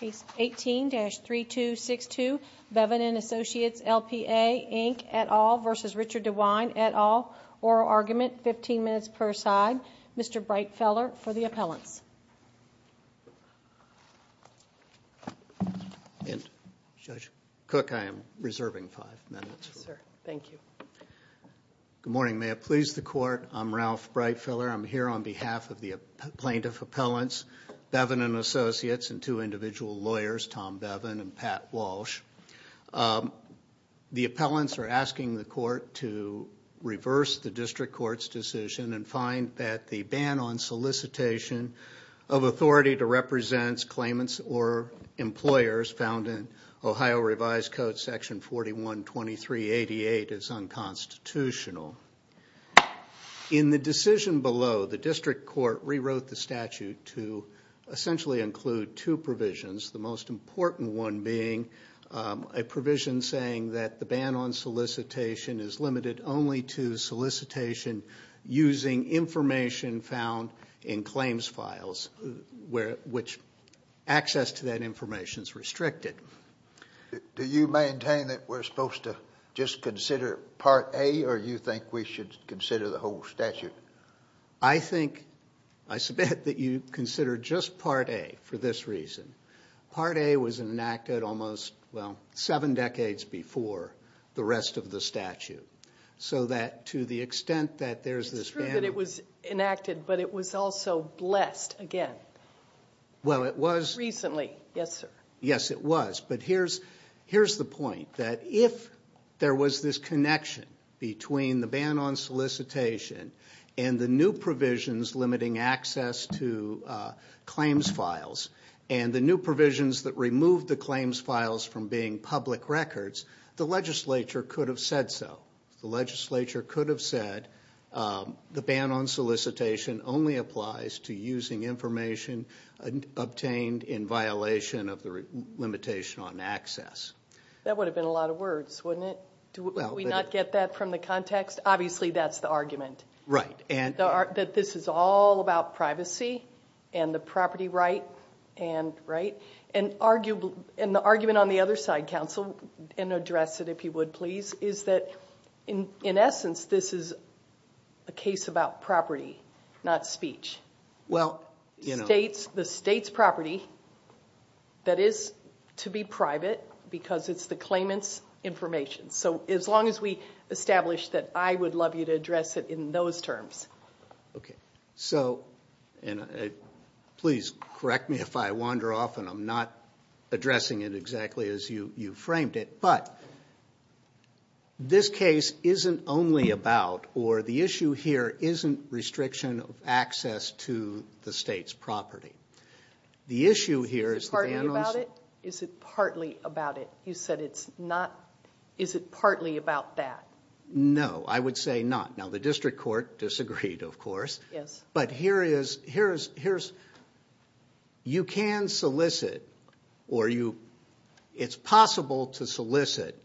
Case 18-3262 Bevan & Associates LPA Inc et al. v. Richard DeWine et al. Oral argument, 15 minutes per side. Mr. Breitfeller for the appellants. Judge Cook, I am reserving five minutes. Yes, sir. Thank you. Good morning. May it please the Court, I'm Ralph Breitfeller. I'm here on behalf of the plaintiff appellants, Bevan & Associates, and two individual lawyers, Tom Bevan and Pat Walsh. The appellants are asking the Court to reverse the District Court's decision and find that the ban on solicitation of authority to represent claimants or employers found in Ohio Revised Code section 412388 is unconstitutional. In the decision below, the District Court rewrote the statute to essentially include two provisions, the most important one being a provision saying that the ban on solicitation is limited only to solicitation using information found in claims files, which access to that information is restricted. Do you maintain that we're supposed to just consider Part A, or do you think we should consider the whole statute? I think, I submit that you consider just Part A for this reason. Part A was enacted almost, well, seven decades before the rest of the statute, so that to the extent that there's this ban... It's true that it was enacted, but it was also blessed again. Well, it was... Recently, yes, sir. Yes, it was. But here's the point, that if there was this connection between the ban on solicitation and the new provisions limiting access to claims files, and the new provisions that removed the claims files from being public records, the legislature could have said so. The legislature could have said the ban on solicitation only applies to using information obtained in violation of the limitation on access. That would have been a lot of words, wouldn't it? Do we not get that from the context? Obviously, that's the argument. Right. That this is all about privacy and the property right. And the argument on the other side, counsel, and address it if you would, please, is that in essence, this is a case about property, not speech. Well, you know... The state's property that is to be private because it's the claimant's information. So as long as we establish that, I would love you to address it in those terms. Okay. So, and please correct me if I wander off and I'm not addressing it exactly as you framed it. But this case isn't only about, or the issue here isn't restriction of access to the state's property. The issue here is... Is it partly about it? Is it partly about it? You said it's not. Is it partly about that? No, I would say not. Now, the district court disagreed, of course. Yes. But here is... You can solicit or you... It's possible to solicit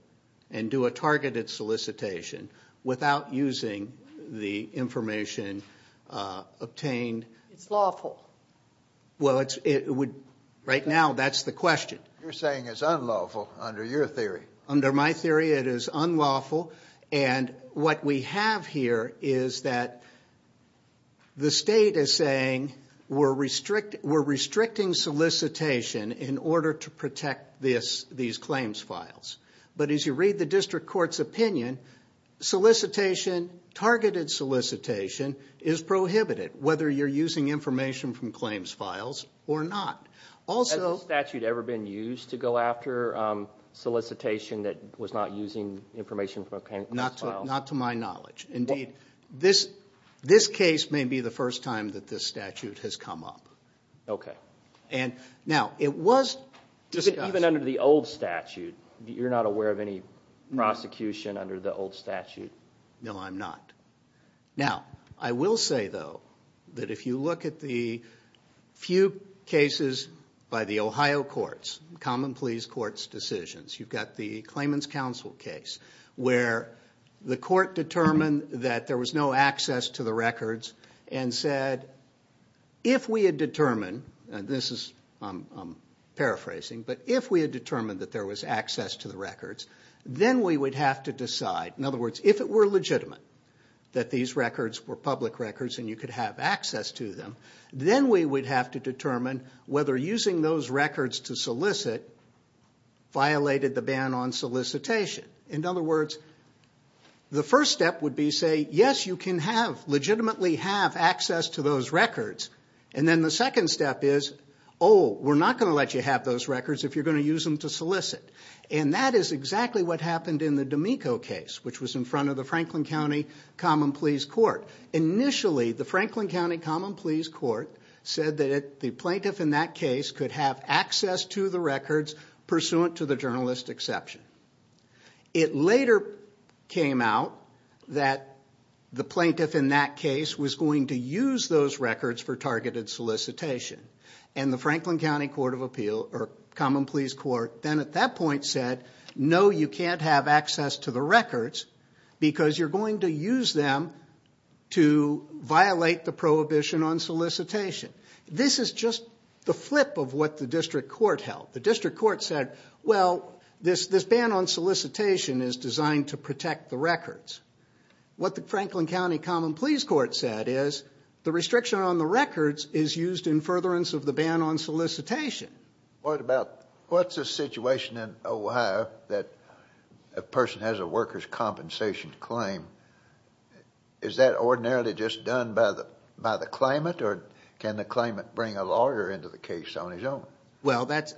and do a targeted solicitation without using the information obtained. It's lawful. Well, it would... Right now, that's the question. You're saying it's unlawful under your theory. Under my theory, it is unlawful. And what we have here is that the state is saying we're restricting solicitation in order to protect these claims files. But as you read the district court's opinion, solicitation, targeted solicitation, is prohibited, whether you're using information from claims files or not. Also... Not to my knowledge. Indeed, this case may be the first time that this statute has come up. Okay. Now, it was discussed... Even under the old statute, you're not aware of any prosecution under the old statute? No, I'm not. Now, I will say, though, that if you look at the few cases by the Ohio courts, common pleas court's decisions, you've got the claimant's counsel case, where the court determined that there was no access to the records and said, if we had determined... And this is paraphrasing. But if we had determined that there was access to the records, then we would have to decide... In other words, if it were legitimate that these records were public records and you could have access to them, then we would have to determine whether using those records to solicit violated the ban on solicitation. In other words, the first step would be to say, yes, you can legitimately have access to those records. And then the second step is, oh, we're not going to let you have those records if you're going to use them to solicit. And that is exactly what happened in the D'Amico case, which was in front of the Franklin County Common Pleas Court. Initially, the Franklin County Common Pleas Court said that the plaintiff in that case could have access to the records pursuant to the journalist exception. It later came out that the plaintiff in that case was going to use those records for targeted solicitation. And the Franklin County Common Pleas Court then at that point said, no, you can't have access to the records because you're going to use them to violate the prohibition on solicitation. This is just the flip of what the district court held. The district court said, well, this ban on solicitation is designed to protect the records. What the Franklin County Common Pleas Court said is the restriction on the records is used in furtherance of the ban on solicitation. What about, what's the situation in Ohio that a person has a workers' compensation claim? Is that ordinarily just done by the claimant or can the claimant bring a lawyer into the case on his own? Well, that's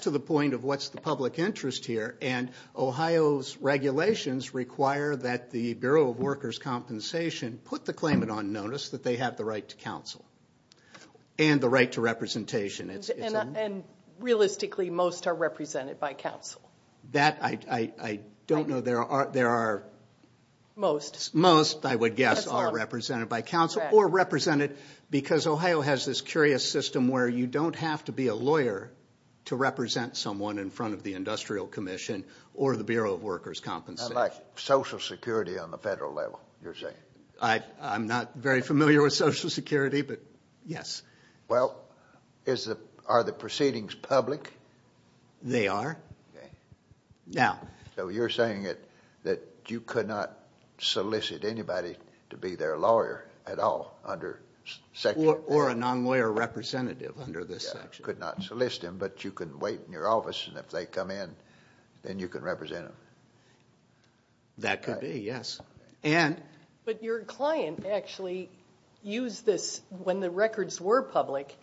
to the point of what's the public interest here. And Ohio's regulations require that the Bureau of Workers' Compensation put the claimant on notice that they have the right to counsel and the right to representation. And realistically, most are represented by counsel. That, I don't know, there are. Most. Most, I would guess, are represented by counsel or represented because Ohio has this curious system where you don't have to be a lawyer to represent someone in front of the Industrial Commission or the Bureau of Workers' Compensation. Like Social Security on the federal level, you're saying. I'm not very familiar with Social Security, but yes. Well, are the proceedings public? They are. Okay. Now. So you're saying that you could not solicit anybody to be their lawyer at all under section. Or a non-lawyer representative under this section. You could not solicit them, but you could wait in your office and if they come in, then you could represent them. That could be, yes. But your client actually used this when the records were public.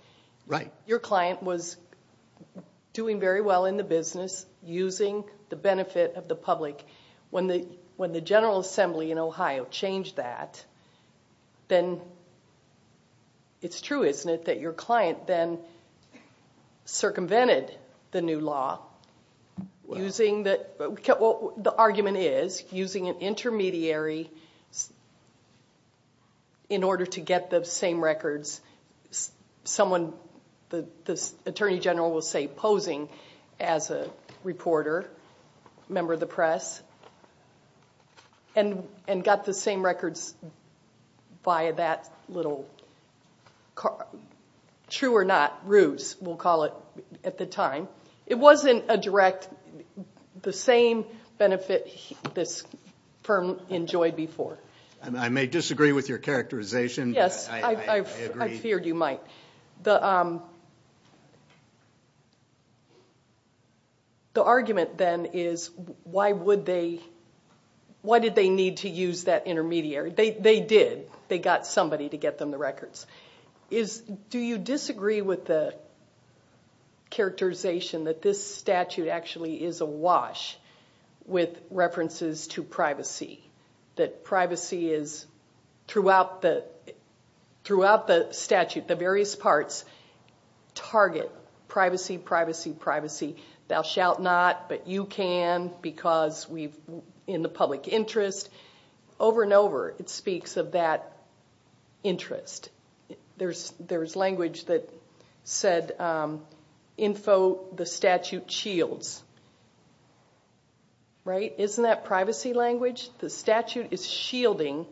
Right. Your client was doing very well in the business, using the benefit of the public. When the General Assembly in Ohio changed that, then it's true, isn't it, that your client then circumvented the new law using the, well, the argument is, using an intermediary in order to get the same records. Someone, the Attorney General will say, posing as a reporter, member of the press, and got the same records via that little, true or not, ruse, we'll call it at the time. It wasn't a direct, the same benefit this firm enjoyed before. I may disagree with your characterization. Yes. I agree. I feared you might. The argument, then, is why would they, why did they need to use that intermediary? They did. They got somebody to get them the records. Do you disagree with the characterization that this statute actually is awash with references to privacy? That privacy is, throughout the statute, the various parts, target privacy, privacy, privacy. Thou shalt not, but you can, because we've, in the public interest. Over and over, it speaks of that interest. There's language that said, info the statute shields. Right? Isn't that privacy language? The statute is shielding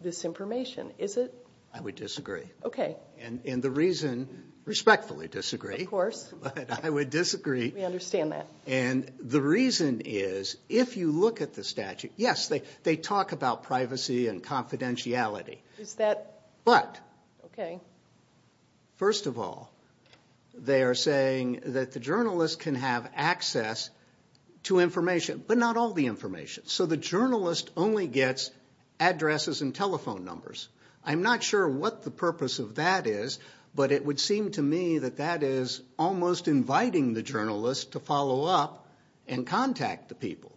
this information, is it? I would disagree. Okay. And the reason, respectfully disagree. Of course. But I would disagree. We understand that. And the reason is, if you look at the statute, yes, they talk about privacy and confidentiality. Is that? But. Okay. First of all, they are saying that the journalist can have access to information, but not all the information. So the journalist only gets addresses and telephone numbers. I'm not sure what the purpose of that is, but it would seem to me that that is almost inviting the journalist to follow up and contact the people.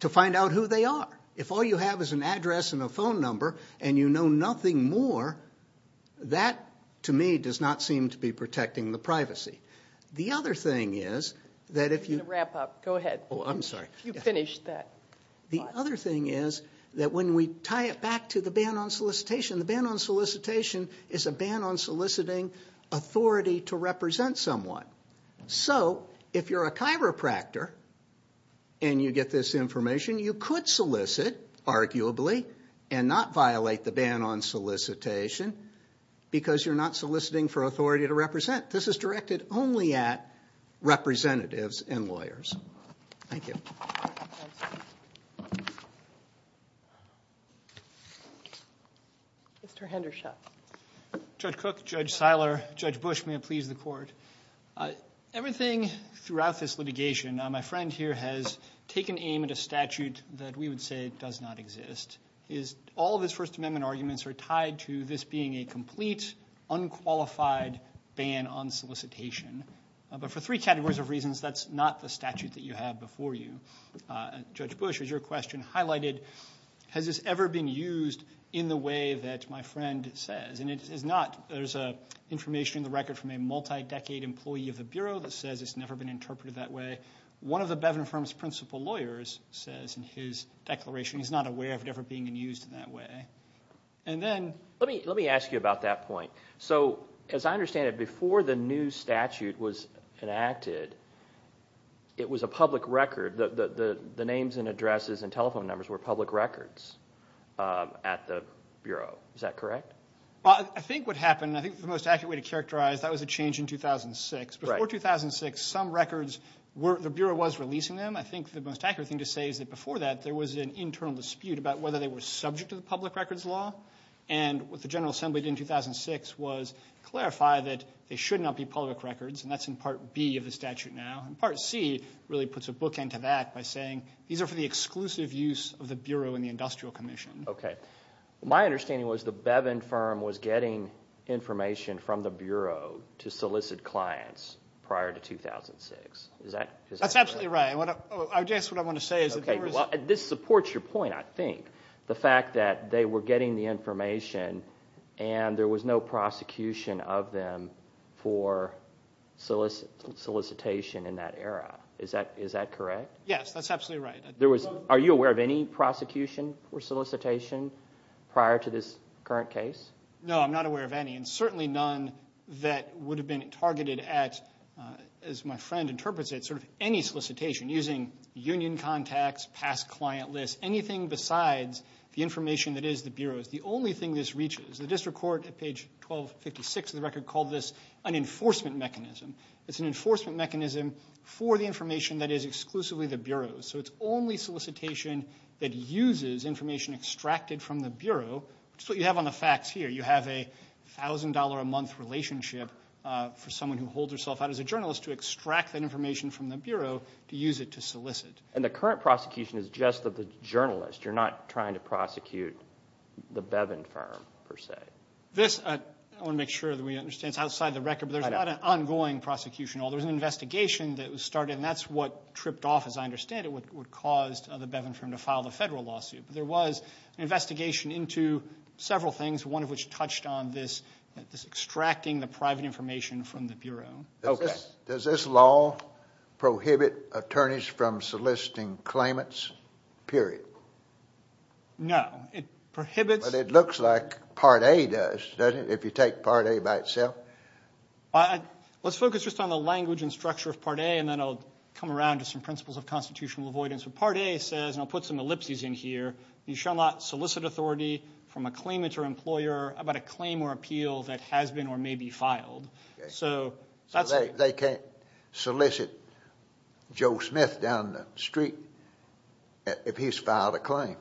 To find out who they are. If all you have is an address and a phone number, and you know nothing more, that, to me, does not seem to be protecting the privacy. The other thing is, that if you. Wrap up. Go ahead. Oh, I'm sorry. You finished that. The other thing is, that when we tie it back to the ban on solicitation, the ban on solicitation is a ban on soliciting authority to represent someone. So, if you're a chiropractor, and you get this information, you could solicit, arguably, and not violate the ban on solicitation. Because you're not soliciting for authority to represent. This is directed only at representatives and lawyers. Thank you. Mr. Hendershot. Judge Cook, Judge Seiler, Judge Bush, may it please the court. Everything throughout this litigation, my friend here has taken aim at a statute that we would say does not exist. All of his First Amendment arguments are tied to this being a complete, unqualified ban on solicitation. But for three categories of reasons, that's not the statute that you have before you. Judge Bush, as your question highlighted, has this ever been used in the way that my friend says? There's information in the record from a multi-decade employee of the Bureau that says it's never been interpreted that way. One of the Bevan Firm's principal lawyers says in his declaration he's not aware of it ever being used in that way. Let me ask you about that point. So, as I understand it, before the new statute was enacted, it was a public record. The names and addresses and telephone numbers were public records at the Bureau. Is that correct? Well, I think what happened, and I think the most accurate way to characterize, that was a change in 2006. Before 2006, some records, the Bureau was releasing them. I think the most accurate thing to say is that before that, there was an internal dispute about whether they were subject to the public records law. And what the General Assembly did in 2006 was clarify that they should not be public records. And that's in Part B of the statute now. And Part C really puts a bookend to that by saying these are for the exclusive use of the Bureau and the Industrial Commission. Okay. My understanding was the Bevan Firm was getting information from the Bureau to solicit clients prior to 2006. Is that correct? That's absolutely right. I guess what I want to say is that there was… Okay, well, this supports your point, I think. The fact that they were getting the information and there was no prosecution of them for solicitation in that era. Is that correct? Yes, that's absolutely right. Are you aware of any prosecution or solicitation prior to this current case? No, I'm not aware of any, and certainly none that would have been targeted at, as my friend interprets it, sort of any solicitation using union contacts, past client lists, anything besides the information that is the Bureau's. The only thing this reaches, the District Court at page 1256 of the record called this an enforcement mechanism. It's an enforcement mechanism for the information that is exclusively the Bureau's. So it's only solicitation that uses information extracted from the Bureau, which is what you have on the facts here. You have a $1,000-a-month relationship for someone who holds herself out as a journalist to extract that information from the Bureau to use it to solicit. And the current prosecution is just of the journalist. You're not trying to prosecute the Bevan Firm, per se. This, I want to make sure that we understand, it's outside the record, but there's not an ongoing prosecution. There was an investigation that was started, and that's what tripped off, as I understand it, what caused the Bevan Firm to file the Federal lawsuit. But there was an investigation into several things, one of which touched on this, this extracting the private information from the Bureau. Okay. Does this law prohibit attorneys from soliciting claimants, period? No. It prohibits. But it looks like Part A does, doesn't it, if you take Part A by itself? Let's focus just on the language and structure of Part A, and then I'll come around to some principles of constitutional avoidance. But Part A says, and I'll put some ellipses in here, you shall not solicit authority from a claimant or employer about a claim or appeal that has been or may be filed. So they can't solicit Joe Smith down the street if he's filed a claim.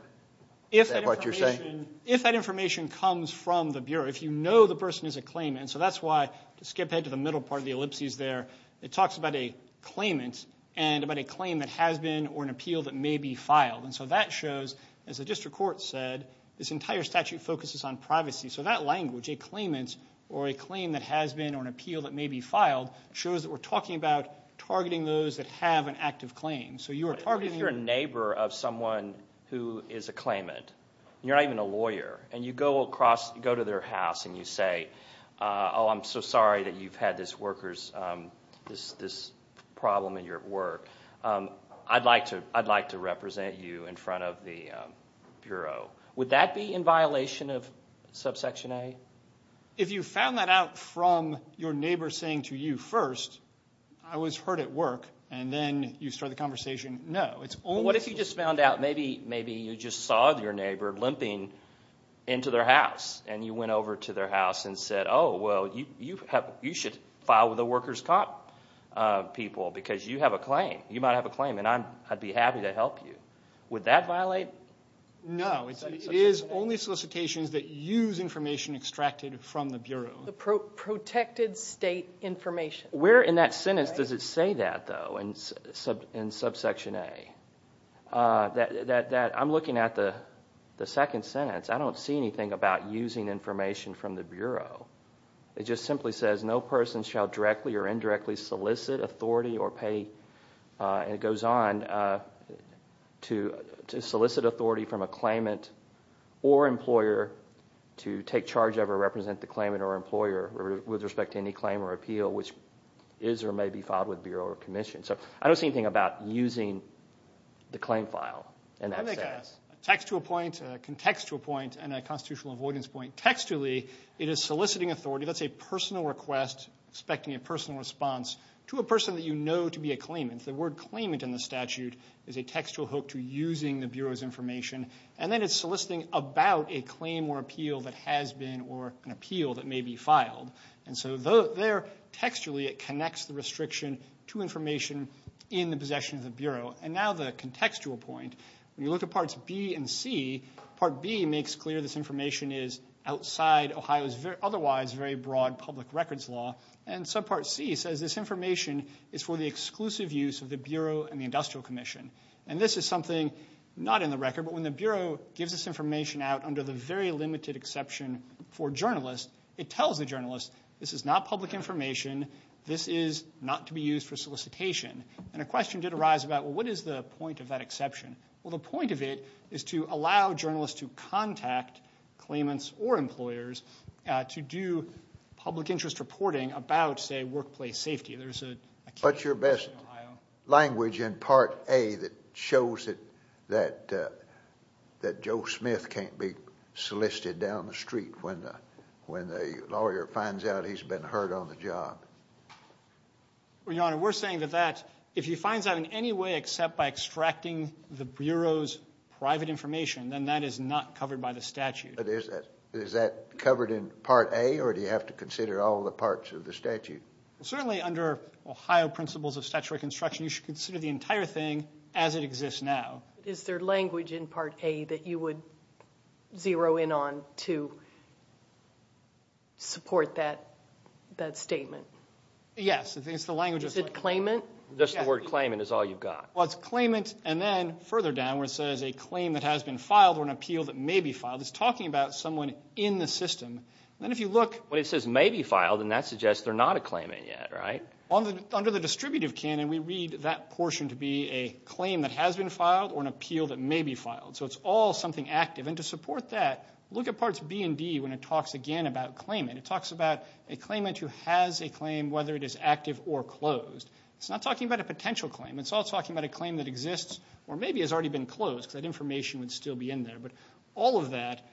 Is that what you're saying? If that information comes from the Bureau, if you know the person is a claimant, and so that's why to skip ahead to the middle part of the ellipses there, it talks about a claimant and about a claim that has been or an appeal that may be filed. And so that shows, as the district court said, this entire statute focuses on privacy. So that language, a claimant or a claim that has been or an appeal that may be filed, shows that we're talking about targeting those that have an active claim. But if you're a neighbor of someone who is a claimant, and you're not even a lawyer, and you go to their house and you say, oh, I'm so sorry that you've had this problem in your work. I'd like to represent you in front of the Bureau. Would that be in violation of Subsection A? If you found that out from your neighbor saying to you first, I was hurt at work, and then you start the conversation, no. What if you just found out, maybe you just saw your neighbor limping into their house, and you went over to their house and said, oh, well, you should file with the workers' comp people because you have a claim. You might have a claim, and I'd be happy to help you. Would that violate Subsection A? No, it is only solicitations that use information extracted from the Bureau. The protected state information. Where in that sentence does it say that, though, in Subsection A? I'm looking at the second sentence. I don't see anything about using information from the Bureau. It just simply says no person shall directly or indirectly solicit authority or pay, and it goes on, to solicit authority from a claimant or employer to take charge of or represent the claimant or employer with respect to any claim or appeal which is or may be filed with the Bureau or Commission. So I don't see anything about using the claim file in that sense. Textual point, contextual point, and a constitutional avoidance point. Textually, it is soliciting authority. That's a personal request expecting a personal response to a person that you know to be a claimant. The word claimant in the statute is a textual hook to using the Bureau's information, and then it's soliciting about a claim or appeal that has been or an appeal that may be filed. And so there, textually, it connects the restriction to information in the possession of the Bureau. And now the contextual point. When you look at Parts B and C, Part B makes clear this information is outside Ohio's otherwise very broad public records law, and Subpart C says this information is for the exclusive use of the Bureau and the Industrial Commission. And this is something not in the record, but when the Bureau gives this information out under the very limited exception for journalists, it tells the journalist this is not public information, this is not to be used for solicitation. And a question did arise about, well, what is the point of that exception? Well, the point of it is to allow journalists to contact claimants or employers to do public interest reporting about, say, workplace safety. What's your best language in Part A that shows that Joe Smith can't be solicited down the street when the lawyer finds out he's been hurt on the job? Well, Your Honor, we're saying that if he finds out in any way except by extracting the Bureau's private information, then that is not covered by the statute. Is that covered in Part A, or do you have to consider all the parts of the statute? Certainly under Ohio principles of statutory construction, you should consider the entire thing as it exists now. Is there language in Part A that you would zero in on to support that statement? Yes. Is it claimant? Just the word claimant is all you've got. Well, it's claimant, and then further down where it says a claim that has been filed or an appeal that may be filed, it's talking about someone in the system. When it says may be filed, then that suggests they're not a claimant yet, right? Under the distributive canon, we read that portion to be a claim that has been filed or an appeal that may be filed, so it's all something active. And to support that, look at Parts B and D when it talks again about claimant. It talks about a claimant who has a claim, whether it is active or closed. It's not talking about a potential claim. It's all talking about a claim that exists or maybe has already been closed because that information would still be in there. But all of that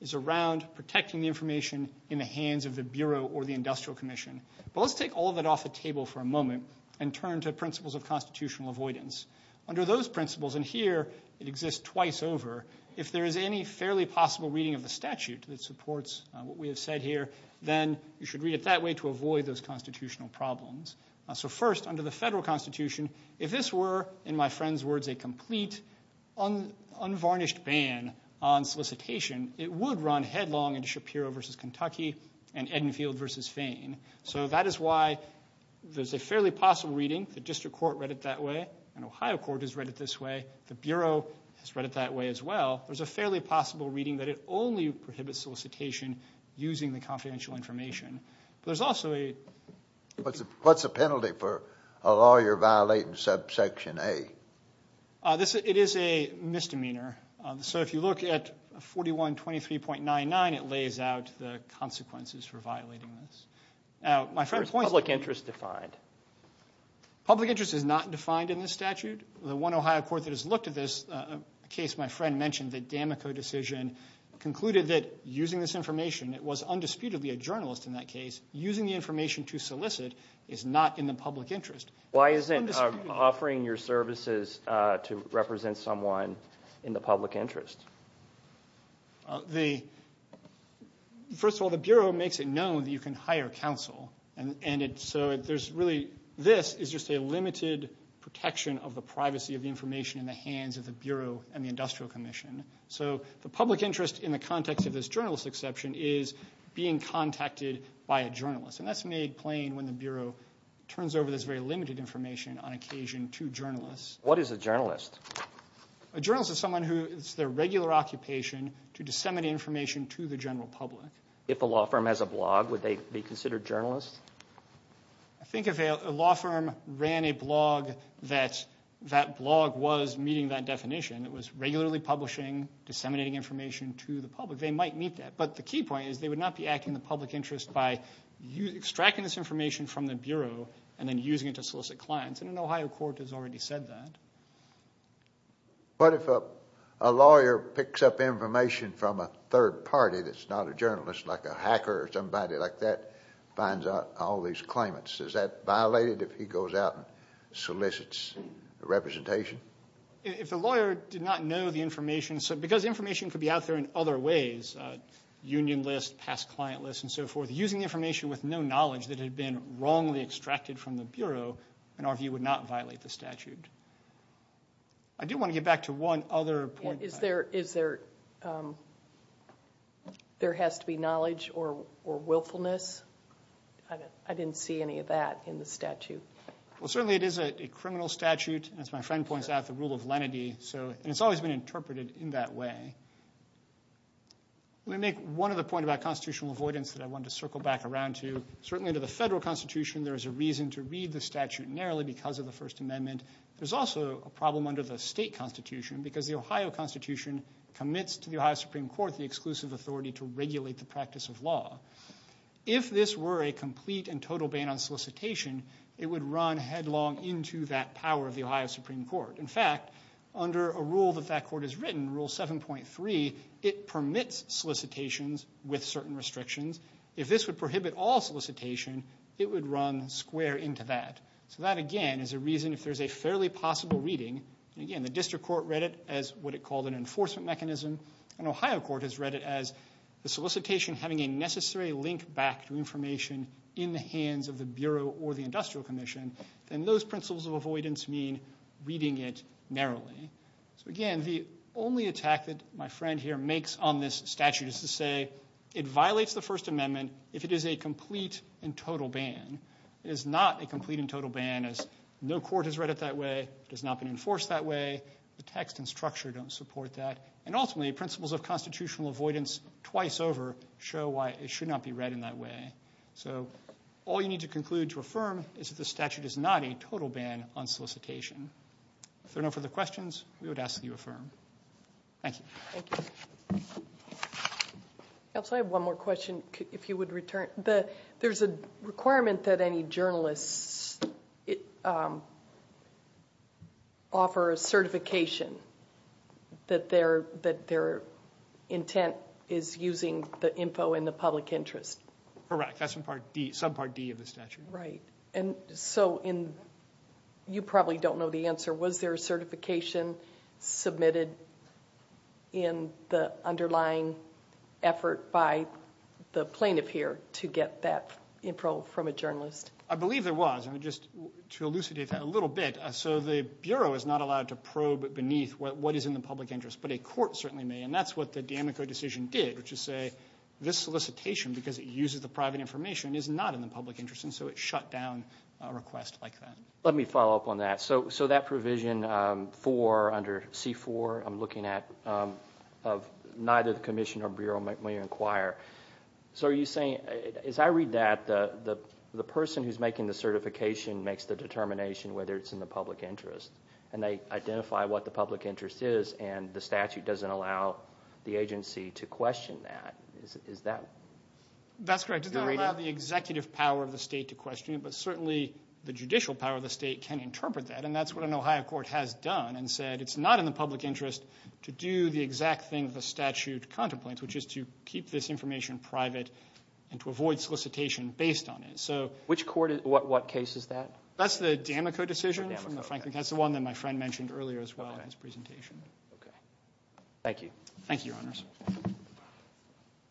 is around protecting the information in the hands of the Bureau or the Industrial Commission. But let's take all of that off the table for a moment and turn to principles of constitutional avoidance. Under those principles, and here it exists twice over, if there is any fairly possible reading of the statute that supports what we have said here, then you should read it that way to avoid those constitutional problems. So first, under the federal constitution, if this were, in my friend's words, a complete unvarnished ban on solicitation, it would run headlong into Shapiro v. Kentucky and Edenfield v. Fane. So that is why there's a fairly possible reading. The District Court read it that way and Ohio Court has read it this way. The Bureau has read it that way as well. There's a fairly possible reading that it only prohibits solicitation using the confidential information. What's the penalty for a lawyer violating subsection A? It is a misdemeanor. So if you look at 4123.99, it lays out the consequences for violating this. Is public interest defined? Public interest is not defined in this statute. The one Ohio court that has looked at this case, my friend mentioned, the Damico decision concluded that using this information, it was undisputedly a journalist in that case, using the information to solicit is not in the public interest. Why isn't offering your services to represent someone in the public interest? First of all, the Bureau makes it known that you can hire counsel. So this is just a limited protection of the privacy of the information in the hands of the Bureau and the Industrial Commission. So the public interest in the context of this journalist exception is being contacted by a journalist. And that's made plain when the Bureau turns over this very limited information on occasion to journalists. What is a journalist? A journalist is someone who has their regular occupation to disseminate information to the general public. If a law firm has a blog, would they be considered journalists? I think if a law firm ran a blog, that blog was meeting that definition. It was regularly publishing, disseminating information to the public. They might meet that. But the key point is they would not be acting in the public interest by extracting this information from the Bureau and then using it to solicit clients. And an Ohio court has already said that. But if a lawyer picks up information from a third party that's not a journalist, like a hacker or somebody like that, finds out all these claimants, is that violated if he goes out and solicits representation? If the lawyer did not know the information, because information could be out there in other ways, union list, past client list, and so forth, using information with no knowledge that had been wrongly extracted from the Bureau, in our view, would not violate the statute. I do want to get back to one other point. Is there has to be knowledge or willfulness? I didn't see any of that in the statute. Well, certainly it is a criminal statute. As my friend points out, the rule of lenity. And it's always been interpreted in that way. Let me make one other point about constitutional avoidance that I wanted to circle back around to. Certainly under the federal constitution, there is a reason to read the statute narrowly because of the First Amendment. There's also a problem under the state constitution because the Ohio constitution commits to the Ohio Supreme Court the exclusive authority to regulate the practice of law. If this were a complete and total ban on solicitation, it would run headlong into that power of the Ohio Supreme Court. In fact, under a rule that that court has written, Rule 7.3, it permits solicitations with certain restrictions. If this would prohibit all solicitation, it would run square into that. So that, again, is a reason if there's a fairly possible reading, again, the district court read it as what it called an enforcement mechanism, and Ohio court has read it as the solicitation having a necessary link back to information in the hands of the Bureau or the Industrial Commission, then those principles of avoidance mean reading it narrowly. Again, the only attack that my friend here makes on this statute is to say it violates the First Amendment if it is a complete and total ban. It is not a complete and total ban as no court has read it that way. It has not been enforced that way. The text and structure don't support that. Ultimately, principles of constitutional avoidance twice over show why it should not be read in that way. So all you need to conclude to affirm is that the statute is not a total ban on solicitation. If there are no further questions, we would ask that you affirm. Thank you. Thank you. I also have one more question if you would return. There's a requirement that any journalists offer a certification that their intent is using the info in the public interest. Correct. That's subpart D of the statute. Right. You probably don't know the answer. Was there a certification submitted in the underlying effort by the plaintiff here to get that info from a journalist? I believe there was. Just to elucidate that a little bit, the Bureau is not allowed to probe beneath what is in the public interest, but a court certainly may, and that's what the D'Amico decision did, which is say this solicitation, because it uses the private information, is not in the public interest, and so it shut down a request like that. Let me follow up on that. So that provision under C-4, I'm looking at, neither the Commission or Bureau may inquire. So are you saying, as I read that, the person who's making the certification makes the determination whether it's in the public interest, and they identify what the public interest is and the statute doesn't allow the agency to question that? Is that the reading? That's correct. It doesn't allow the executive power of the state to question it, but certainly the judicial power of the state can interpret that, and that's what an Ohio court has done and said it's not in the public interest to do the exact thing the statute contemplates, which is to keep this information private and to avoid solicitation based on it. Which court? What case is that? That's the D'Amico decision. That's the one that my friend mentioned earlier as well in his presentation. Okay. Thank you. Thank you, Your Honors.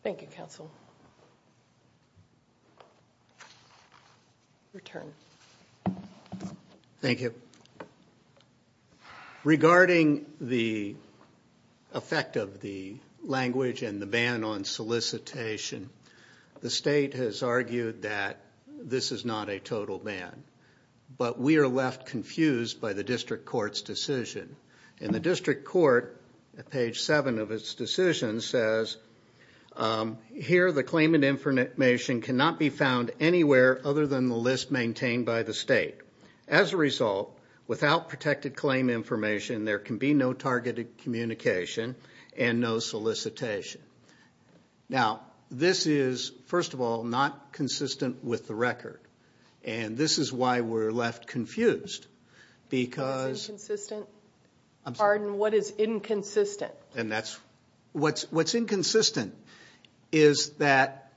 Thank you, Counsel. Your turn. Thank you. Regarding the effect of the language and the ban on solicitation, the state has argued that this is not a total ban, but we are left confused by the district court's decision. And the district court, at page 7 of its decision, says here the claimant information cannot be found anywhere other than the list maintained by the state. As a result, without protected claim information, there can be no targeted communication and no solicitation. Now, this is, first of all, not consistent with the record, and this is why we're left confused. What's inconsistent? Pardon? What is inconsistent? What's inconsistent is that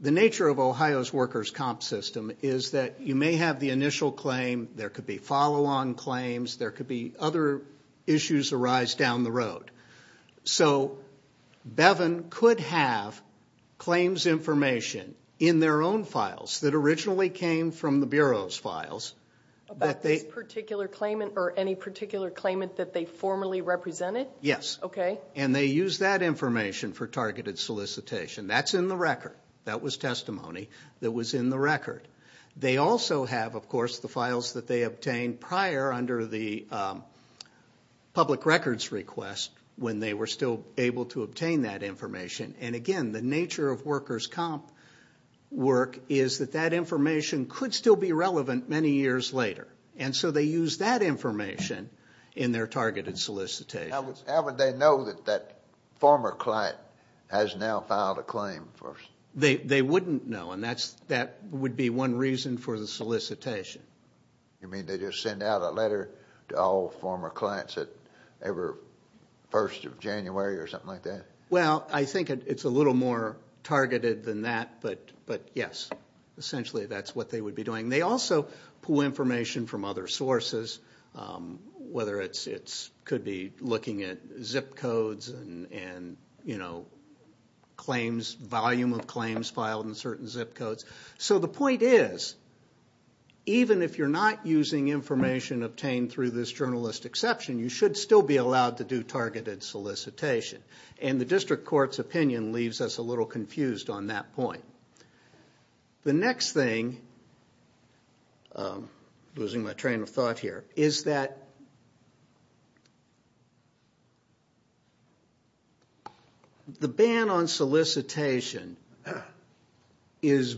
the nature of Ohio's workers' comp system is that you may have the initial claim, there could be follow-on claims, there could be other issues arise down the road. So Bevin could have claims information in their own files that originally came from the Bureau's files. About this particular claimant or any particular claimant that they formerly represented? Yes. Okay. And they use that information for targeted solicitation. That's in the record. That was testimony that was in the record. They also have, of course, the files that they obtained prior under the public records request when they were still able to obtain that information. And, again, the nature of workers' comp work is that that information could still be relevant many years later. And so they use that information in their targeted solicitation. How would they know that that former client has now filed a claim? They wouldn't know, and that would be one reason for the solicitation. You mean they just send out a letter to all former clients that they were 1st of January or something like that? Well, I think it's a little more targeted than that. But, yes, essentially that's what they would be doing. They also pull information from other sources, whether it could be looking at zip codes and volume of claims filed in certain zip codes. So the point is, even if you're not using information obtained through this journalist exception, you should still be allowed to do targeted solicitation. And the district court's opinion leaves us a little confused on that point. The next thing, I'm losing my train of thought here, is that the ban on solicitation is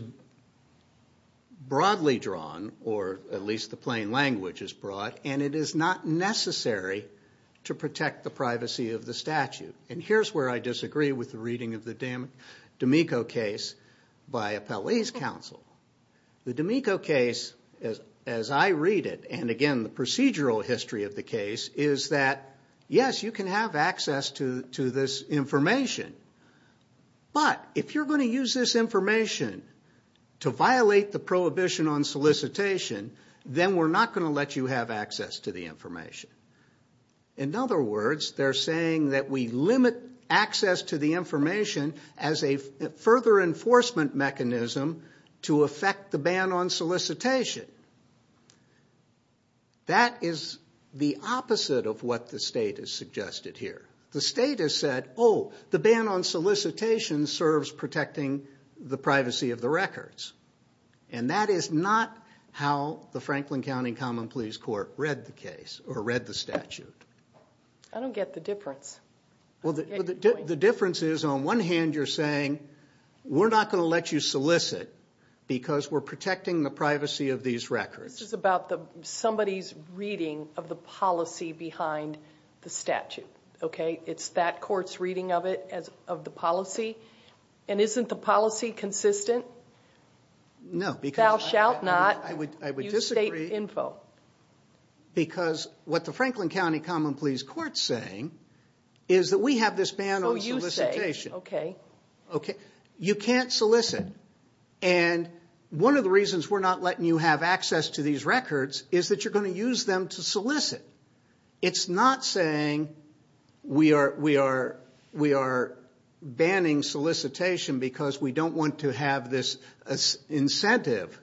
broadly drawn, or at least the plain language is broad, and it is not necessary to protect the privacy of the statute. And here's where I disagree with the reading of the D'Amico case by Appellee's Counsel. The D'Amico case, as I read it, and, again, the procedural history of the case is that, yes, you can have access to this information, but if you're going to use this information to violate the prohibition on solicitation, then we're not going to let you have access to the information. In other words, they're saying that we limit access to the information as a further enforcement mechanism to affect the ban on solicitation. That is the opposite of what the state has suggested here. The state has said, oh, the ban on solicitation serves protecting the privacy of the records. And that is not how the Franklin County Common Pleas Court read the case or read the statute. I don't get the difference. The difference is, on one hand, you're saying we're not going to let you solicit because we're protecting the privacy of these records. This is about somebody's reading of the policy behind the statute. It's that court's reading of the policy. And isn't the policy consistent? No. Thou shalt not use state info. I would disagree. Because what the Franklin County Common Pleas Court is saying is that we have this ban on solicitation. Oh, you say. Okay. You can't solicit. And one of the reasons we're not letting you have access to these records is that you're going to use them to solicit. It's not saying we are banning solicitation because we don't want to have this incentive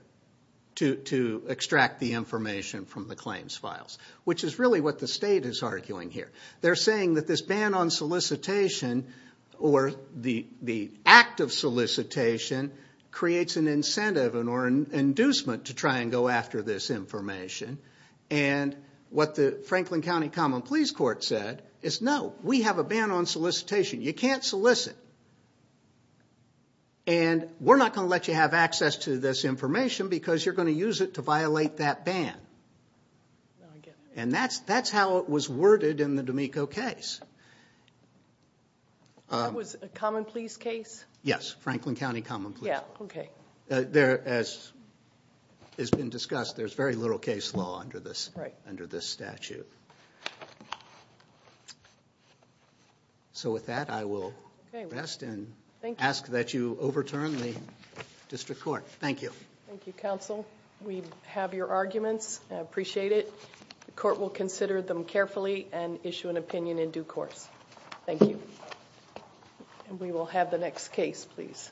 to extract the information from the claims files, which is really what the state is arguing here. They're saying that this ban on solicitation or the act of solicitation creates an incentive or an inducement to try and go after this information. And what the Franklin County Common Pleas Court said is, no, we have a ban on solicitation. You can't solicit. And we're not going to let you have access to this information because you're going to use it to violate that ban. And that's how it was worded in the D'Amico case. That was a Common Pleas case? Yes. Franklin County Common Pleas. Yeah. Okay. As has been discussed, there's very little case law under this statute. Right. So with that, I will rest and ask that you overturn the district court. Thank you. Thank you, counsel. We have your arguments, and I appreciate it. The court will consider them carefully and issue an opinion in due course. Thank you. And we will have the next case, please.